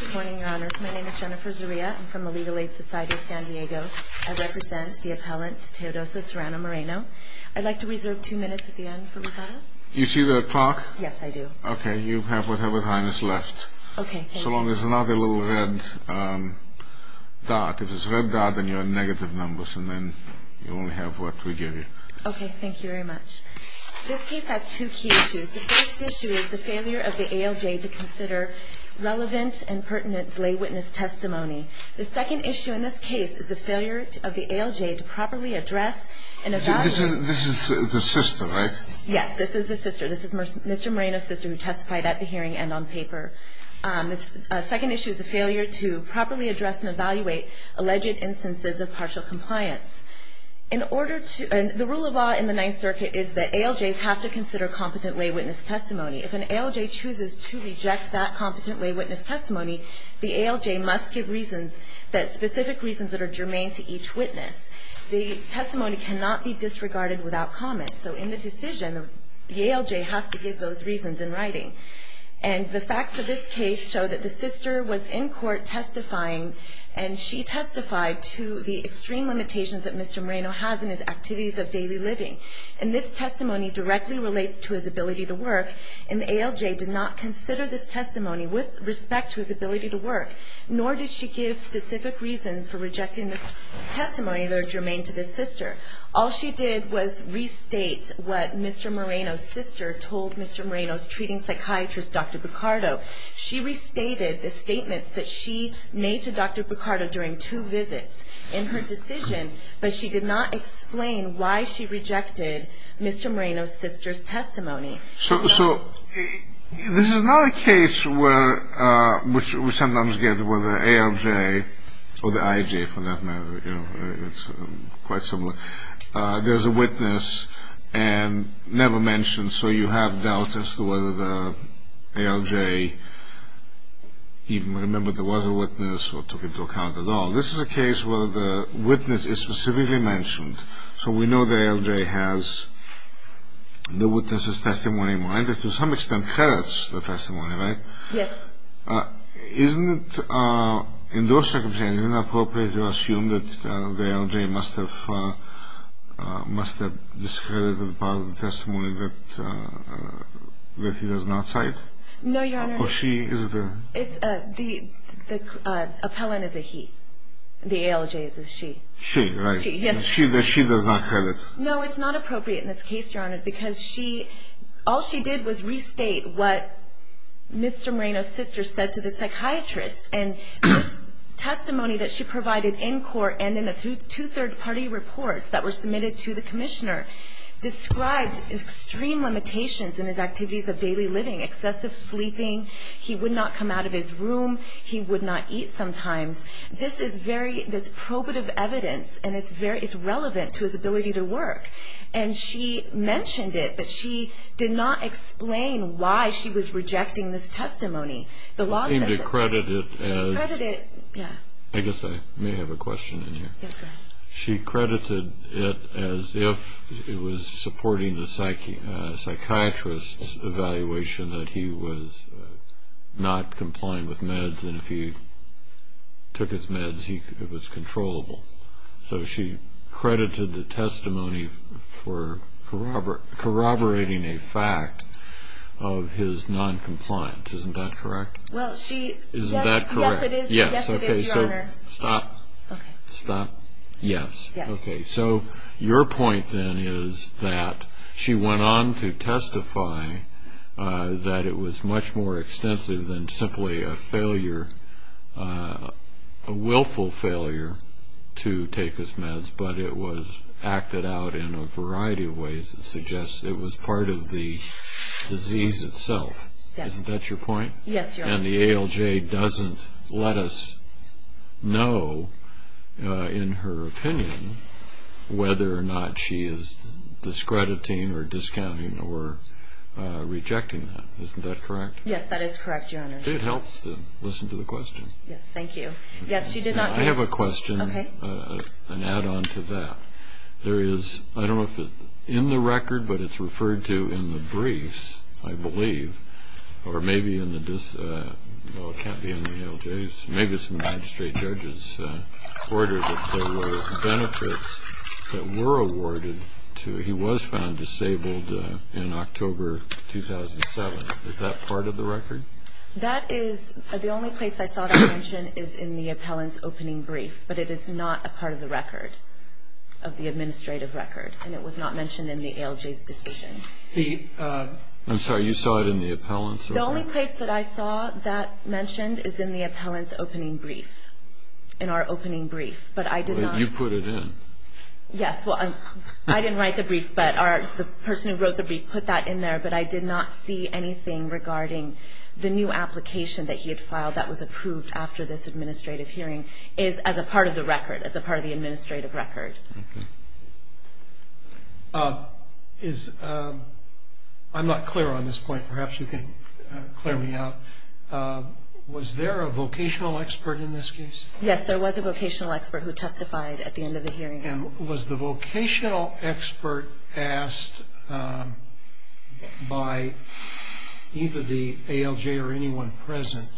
Good morning, your honors. My name is Jennifer Zaria. I'm from the Legal Aid Society of San Diego. I represent the appellant Teodoso Serrano Moreno. I'd like to reserve two minutes at the end for rebuttal. You see the clock? Yes, I do. Okay, you have whatever time is left. Okay, thank you. So long as it's not a little red dot. If it's a red dot, then you're on negative numbers, and then you only have what we give you. Okay, thank you very much. This case has two key issues. The first issue is the failure of the ALJ to consider relevant and pertinent lay witness testimony. The second issue in this case is the failure of the ALJ to properly address and evaluate. This is the sister, right? Yes, this is the sister. This is Mr. Moreno's sister who testified at the hearing and on paper. The second issue is the failure to properly address and evaluate alleged instances of partial compliance. The rule of law in the Ninth Circuit is that ALJs have to consider competent lay witness testimony. If an ALJ chooses to reject that competent lay witness testimony, the ALJ must give specific reasons that are germane to each witness. The testimony cannot be disregarded without comment. So in the decision, the ALJ has to give those reasons in writing. And the facts of this case show that the sister was in court testifying, and she testified to the extreme limitations that Mr. Moreno has in his activities of daily living. And this testimony directly relates to his ability to work, and the ALJ did not consider this testimony with respect to his ability to work, nor did she give specific reasons for rejecting this testimony that are germane to this sister. All she did was restate what Mr. Moreno's sister told Mr. Moreno's treating psychiatrist, Dr. Picardo. She restated the statements that she made to Dr. Picardo during two visits in her decision, but she did not explain why she rejected Mr. Moreno's sister's testimony. So this is not a case where we sometimes get whether ALJ or the IJ, for that matter. You know, it's quite similar. There's a witness, and never mentioned, so you have doubts as to whether the ALJ even remembered there was a witness or took into account at all. This is a case where the witness is specifically mentioned, so we know the ALJ has the witness's testimony in mind, which to some extent heralds the testimony, right? Yes. Isn't it, in those circumstances, inappropriate to assume that the ALJ must have discredited part of the testimony that he does not cite? No, Your Honor. Or she is the... The appellant is a he. The ALJ is a she. She, right. Yes. She does not credit. No, it's not appropriate in this case, Your Honor, because all she did was restate what Mr. Moreno's sister said to the psychiatrist. And this testimony that she provided in court and in the two third-party reports that were submitted to the commissioner described extreme limitations in his activities of daily living, excessive sleeping. He would not come out of his room. He would not eat sometimes. This is probative evidence, and it's relevant to his ability to work. And she mentioned it, but she did not explain why she was rejecting this testimony. The law says it. She seemed to credit it as... She credited it, yeah. I guess I may have a question in here. Yes, go ahead. She credited it as if it was supporting the psychiatrist's evaluation that he was not complying with meds, and if he took his meds, it was controllable. So she credited the testimony for corroborating a fact of his noncompliance. Isn't that correct? Well, she... Isn't that correct? Yes, it is, Your Honor. Yes, okay, so stop. Okay. Stop. Yes. Yes. Okay, so your point then is that she went on to testify that it was much more extensive than simply a failure, a willful failure to take his meds, but it was acted out in a variety of ways that suggests it was part of the disease itself. Yes. Isn't that your point? Yes, Your Honor. And the ALJ doesn't let us know, in her opinion, whether or not she is discrediting or discounting or rejecting that. Isn't that correct? Yes, that is correct, Your Honor. It helps to listen to the question. Yes, thank you. Yes, she did not... I have a question, an add-on to that. There is, I don't know if it's in the record, but it's referred to in the briefs, I believe, or maybe in the... Well, it can't be in the ALJs. Maybe it's in the magistrate judge's order that there were benefits that were awarded to... He was found disabled in October 2007. Is that part of the record? That is... The only place I saw that mentioned is in the appellant's opening brief, but it is not a part of the record, of the administrative record, and it was not mentioned in the ALJ's decision. The... I'm sorry, you saw it in the appellant's? The only place that I saw that mentioned is in the appellant's opening brief, in our opening brief, but I did not... You put it in. Yes, well, I didn't write the brief, but the person who wrote the brief put that in there, but I did not see anything regarding the new application that he had filed that was approved after this administrative hearing, is as a part of the record, as a part of the administrative record. Okay. Is... I'm not clear on this point. Perhaps you can clear me out. Was there a vocational expert in this case? Yes, there was a vocational expert who testified at the end of the hearing. And was the vocational expert asked by either the ALJ or anyone present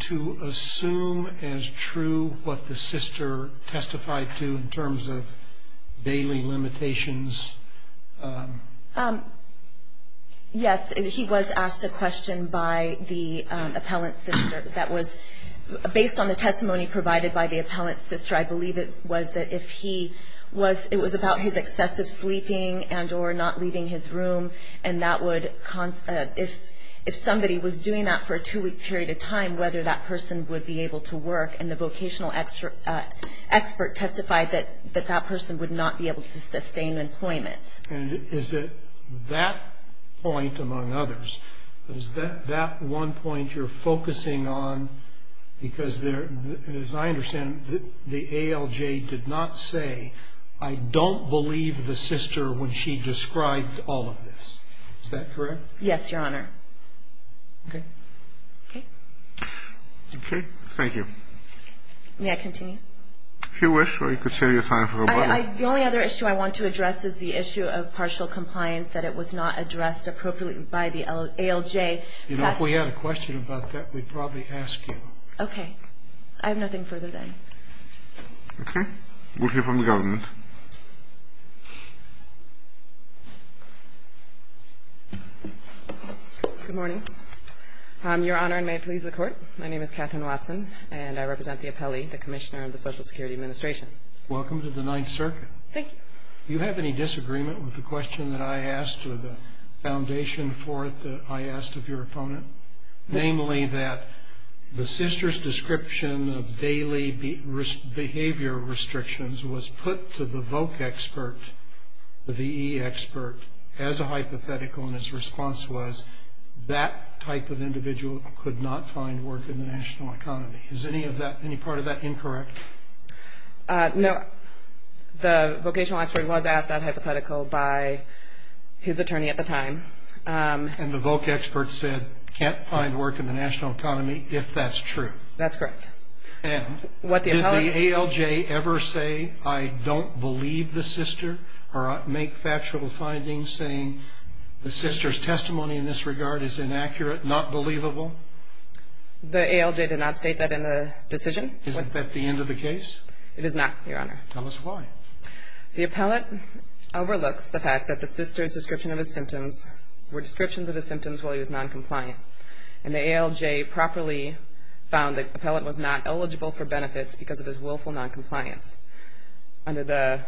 to assume as true what the sister testified to in terms of bailing limitations? Yes, he was asked a question by the appellant's sister that was based on the testimony provided by the appellant's sister. I believe it was that if he was... It was about his excessive sleeping and or not leaving his room, and that would... If somebody was doing that for a two-week period of time, whether that person would be able to work, and the vocational expert testified that that person would not be able to sustain employment. And is it that point, among others, is that one point you're focusing on? Because as I understand it, the ALJ did not say, I don't believe the sister when she described all of this. Is that correct? Yes, Your Honor. Okay. Okay. Okay. Thank you. May I continue? If you wish, or you could save your time for the webinar. The only other issue I want to address is the issue of partial compliance, that it was not addressed appropriately by the ALJ. You know, if we had a question about that, we'd probably ask you. Okay. I have nothing further then. Okay. We'll hear from the government. Good morning. Your Honor, and may it please the Court, my name is Katherine Watson, and I represent the appellee, the Commissioner of the Social Security Administration. Welcome to the Ninth Circuit. Thank you. Do you have any disagreement with the question that I asked, or the foundation for it that I asked of your opponent? Namely, that the sister's description of daily behavior restrictions was put to the voc expert, the VE expert, as a hypothetical, and his response was that type of individual could not find work in the national economy. Is any part of that incorrect? No. The vocational expert was asked that hypothetical by his attorney at the time. And the voc expert said, can't find work in the national economy if that's true. That's correct. And did the ALJ ever say, I don't believe the sister, or make factual findings saying the sister's testimony in this regard is inaccurate, not believable? The ALJ did not state that in the decision. Isn't that the end of the case? It is not, Your Honor. Tell us why. The appellant overlooks the fact that the sister's description of his symptoms were descriptions of his symptoms while he was noncompliant. And the ALJ properly found that the appellant was not eligible for benefits because of his willful noncompliance under the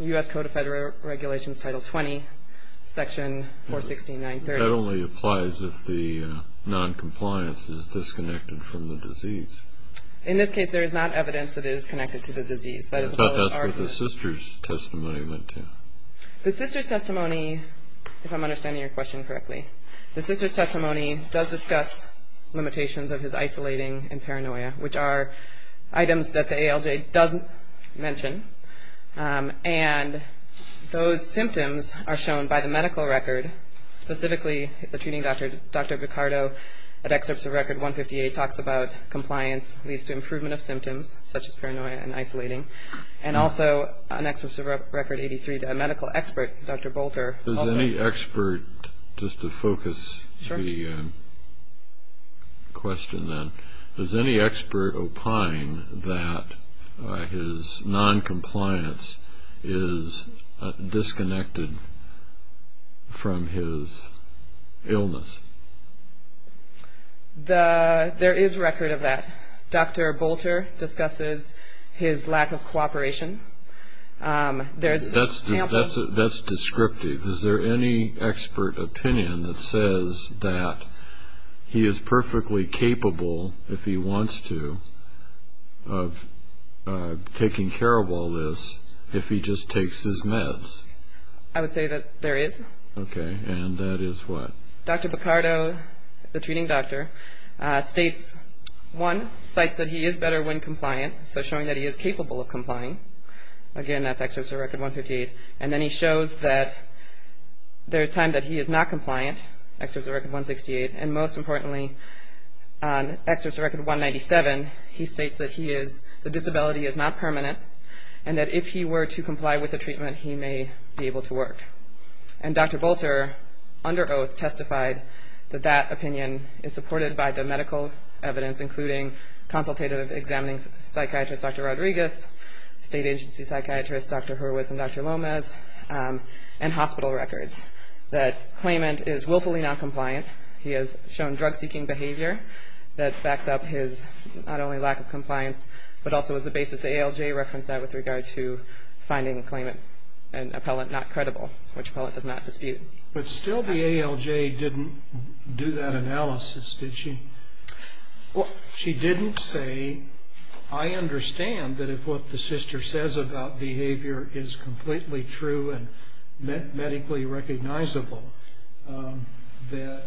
U.S. Code of Federal Regulations, Title 20, Section 416.930. That only applies if the noncompliance is disconnected from the disease. In this case, there is not evidence that it is connected to the disease. But that's what the sister's testimony meant to. The sister's testimony, if I'm understanding your question correctly, the sister's testimony does discuss limitations of his isolating and paranoia, which are items that the ALJ doesn't mention. And those symptoms are shown by the medical record, specifically the treating doctor, Dr. Picardo, that excerpts of Record 158 talks about compliance leads to improvement of symptoms, such as paranoia and isolating. And also an excerpt of Record 83, the medical expert, Dr. Bolter. Does any expert, just to focus the question then, does any expert opine that his noncompliance is disconnected from his illness? There is record of that. Dr. Bolter discusses his lack of cooperation. That's descriptive. Is there any expert opinion that says that he is perfectly capable, if he wants to, of taking care of all this if he just takes his meds? I would say that there is. Okay. And that is what? Dr. Picardo, the treating doctor, states, one, so showing that he is capable of complying. Again, that's excerpts of Record 158. And then he shows that there is time that he is not compliant, excerpts of Record 168. And most importantly, on excerpts of Record 197, he states that the disability is not permanent and that if he were to comply with the treatment, he may be able to work. And Dr. Bolter, under oath, testified that that opinion is supported by the medical evidence, including consultative examining psychiatrist Dr. Rodriguez, state agency psychiatrist Dr. Hurwitz and Dr. Lomez, and hospital records, that claimant is willfully noncompliant. He has shown drug-seeking behavior that backs up his not only lack of compliance, but also was the basis the ALJ referenced that with regard to finding claimant and appellant not credible, which appellant does not dispute. But still the ALJ didn't do that analysis, did she? Well, she didn't say, I understand that if what the sister says about behavior is completely true and medically recognizable, that the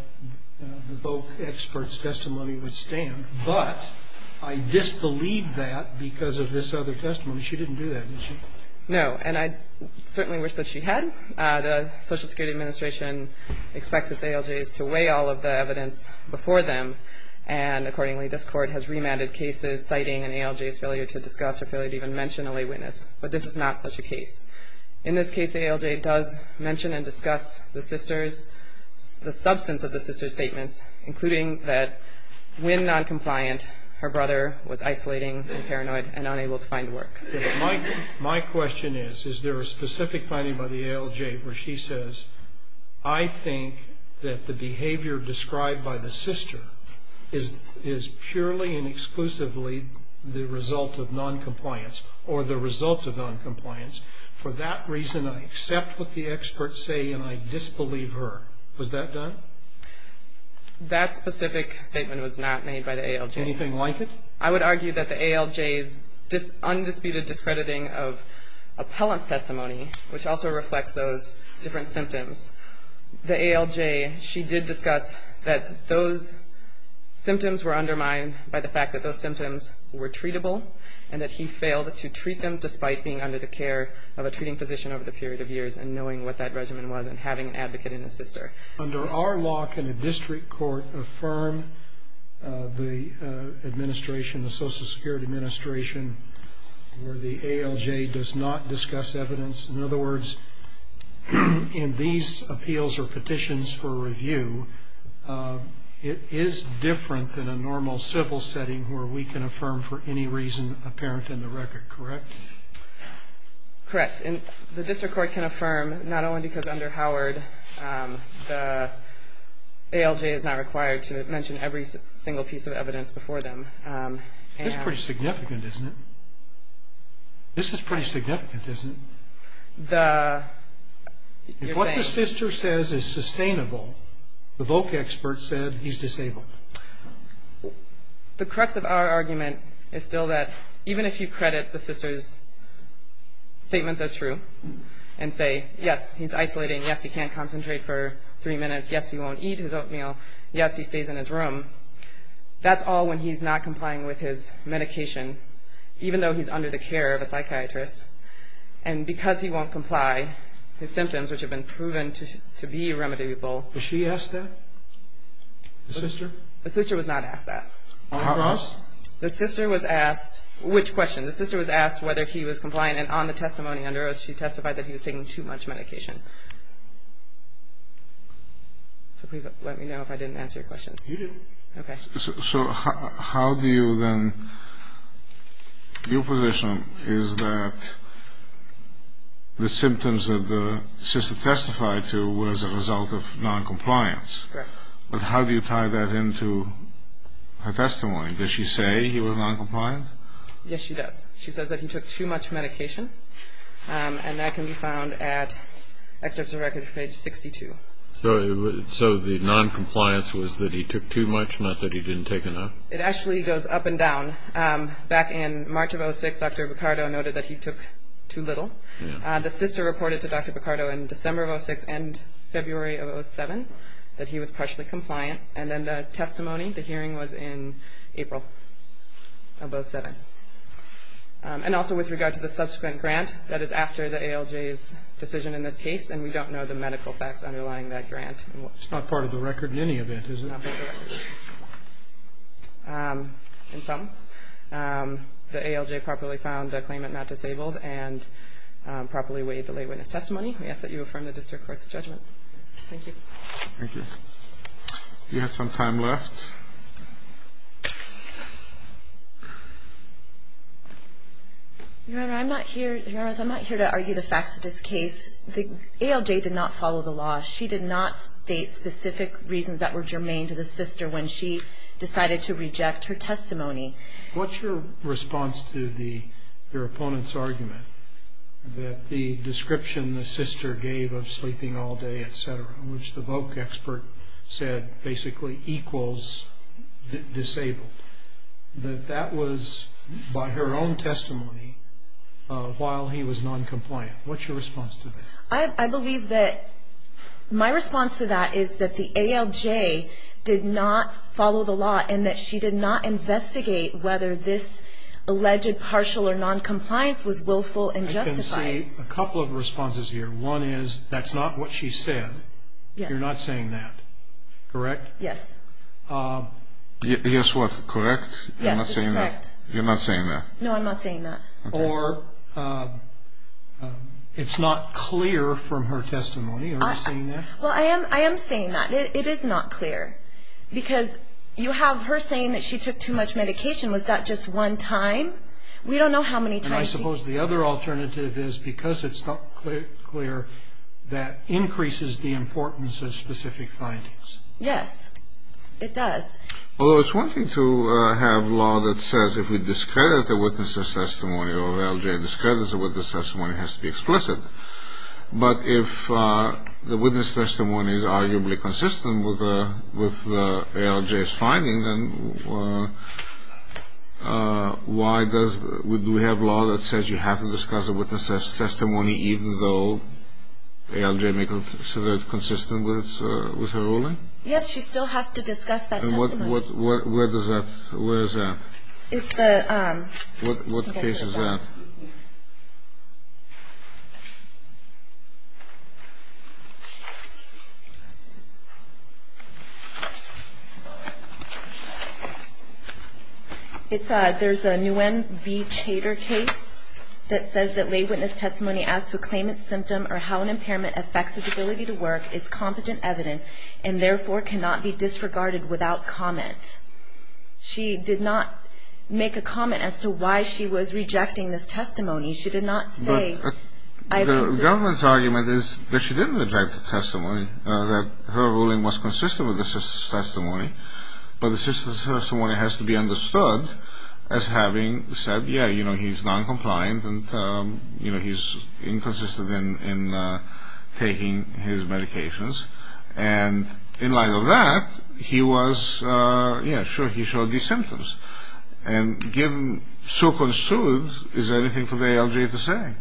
VOC expert's testimony would stand. But I disbelieve that because of this other testimony. She didn't do that, did she? No. And I certainly wish that she had. The Social Security Administration expects its ALJs to weigh all of the evidence before them. And, accordingly, this Court has remanded cases citing an ALJ's failure to discuss or failure to even mention a lay witness. But this is not such a case. In this case, the ALJ does mention and discuss the sisters, the substance of the sisters' statements, including that when noncompliant, her brother was isolating and paranoid and unable to find work. My question is, is there a specific finding by the ALJ where she says, I think that the behavior described by the sister is purely and exclusively the result of noncompliance or the result of noncompliance. For that reason, I accept what the experts say and I disbelieve her. Was that done? That specific statement was not made by the ALJ. Anything like it? I would argue that the ALJ's undisputed discrediting of appellant's testimony, which also reflects those different symptoms, the ALJ, she did discuss that those symptoms were undermined by the fact that those symptoms were treatable and that he failed to treat them despite being under the care of a treating physician over the period of years and knowing what that regimen was and having an advocate in the sister. Under our law, can a district court affirm the administration, the Social Security Administration, where the ALJ does not discuss evidence? In other words, in these appeals or petitions for review, it is different than a normal civil setting where we can affirm for any reason apparent in the record, correct? Correct. The district court can affirm not only because under Howard, the ALJ is not required to mention every single piece of evidence before them. This is pretty significant, isn't it? This is pretty significant, isn't it? If what the sister says is sustainable, the VOC expert said he's disabled. The crux of our argument is still that even if you credit the sister's statements as true and say, yes, he's isolating, yes, he can't concentrate for three minutes, yes, he won't eat his oatmeal, yes, he stays in his room, that's all when he's not complying with his medication even though he's under the care of a psychiatrist. And because he won't comply, his symptoms, which have been proven to be remediable. Was she asked that? The sister? The sister was not asked that. On the cross? The sister was asked which question? The sister was asked whether he was compliant, and on the testimony under oath, she testified that he was taking too much medication. So please let me know if I didn't answer your question. You did. Okay. So how do you then, your position is that the symptoms that the sister testified to was a result of noncompliance. Correct. But how do you tie that into her testimony? Does she say he was noncompliant? Yes, she does. She says that he took too much medication, and that can be found at Excerpts of Record, page 62. So the noncompliance was that he took too much, not that he didn't take enough? It actually goes up and down. Back in March of 2006, Dr. Picardo noted that he took too little. The sister reported to Dr. Picardo in December of 2006 and February of 2007 that he was partially compliant. And then the testimony, the hearing was in April of 2007. And also with regard to the subsequent grant, that is after the ALJ's decision in this case, and we don't know the medical facts underlying that grant. It's not part of the record in any of it, is it? Not part of the record. In sum, the ALJ properly found the claimant not disabled and properly weighed the lay witness testimony. We ask that you affirm the district court's judgment. Thank you. Thank you. You have some time left. Your Honor, I'm not here to argue the facts of this case. The ALJ did not follow the law. She did not state specific reasons that were germane to the sister when she decided to reject her testimony. What's your response to your opponent's argument in which the VOC expert said basically equals disabled? That that was by her own testimony while he was noncompliant. What's your response to that? I believe that my response to that is that the ALJ did not follow the law and that she did not investigate whether this alleged partial or noncompliance was willful and justified. I can see a couple of responses here. One is that's not what she said. Yes. You're not saying that. Correct? Yes. Yes, what? Correct? Yes, it's correct. You're not saying that? No, I'm not saying that. Okay. Or it's not clear from her testimony. Are you saying that? Well, I am saying that. It is not clear. Because you have her saying that she took too much medication. Was that just one time? We don't know how many times. I suppose the other alternative is because it's not clear, that increases the importance of specific findings. Yes, it does. Well, it's one thing to have law that says if we discredit a witness's testimony or an ALJ discredits a witness's testimony, it has to be explicit. But if the witness's testimony is arguably consistent with the ALJ's finding, then do we have law that says you have to discuss a witness's testimony even though ALJ may consider it consistent with her ruling? Yes, she still has to discuss that testimony. And where is that? It's the – What case is that? It's a – there's a Nguyen B. Chater case that says that lay witness testimony as to a claimant's symptom or how an impairment affects its ability to work is competent evidence and therefore cannot be disregarded without comment. She did not make a comment as to why she was rejecting this testimony. She said, But the government's argument is that she didn't reject the testimony, that her ruling was consistent with the testimony, but the testimony has to be understood as having said, yeah, you know, he's noncompliant and, you know, he's inconsistent in taking his medications. And in light of that, he was – yeah, sure, he showed these symptoms. And given so-called students, is there anything for the ALJ to say?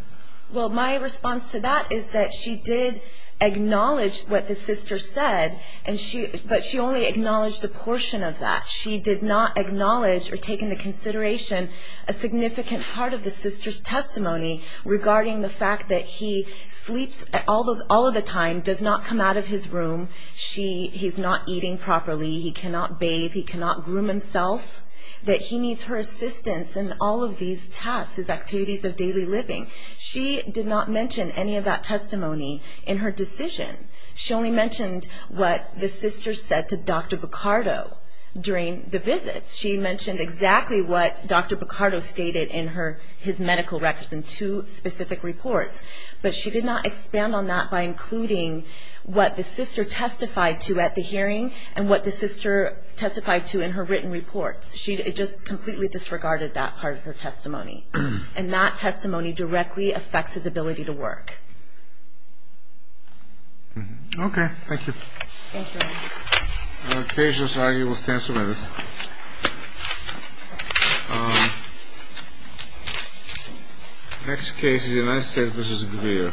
Well, my response to that is that she did acknowledge what the sister said, but she only acknowledged a portion of that. She did not acknowledge or take into consideration a significant part of the sister's testimony regarding the fact that he sleeps all of the time, does not come out of his room, he's not eating properly, he cannot bathe, he cannot groom himself, that he needs her assistance in all of these tasks, his activities of daily living. She did not mention any of that testimony in her decision. She only mentioned what the sister said to Dr. Picardo during the visits. She mentioned exactly what Dr. Picardo stated in his medical records in two specific reports, but she did not expand on that by including what the sister testified to at the hearing and what the sister testified to in her written reports. She just completely disregarded that part of her testimony. And that testimony directly affects his ability to work. Okay. Thank you. Thank you. On occasion, Sally, you will stand summarily. Next case, United States v. Greer.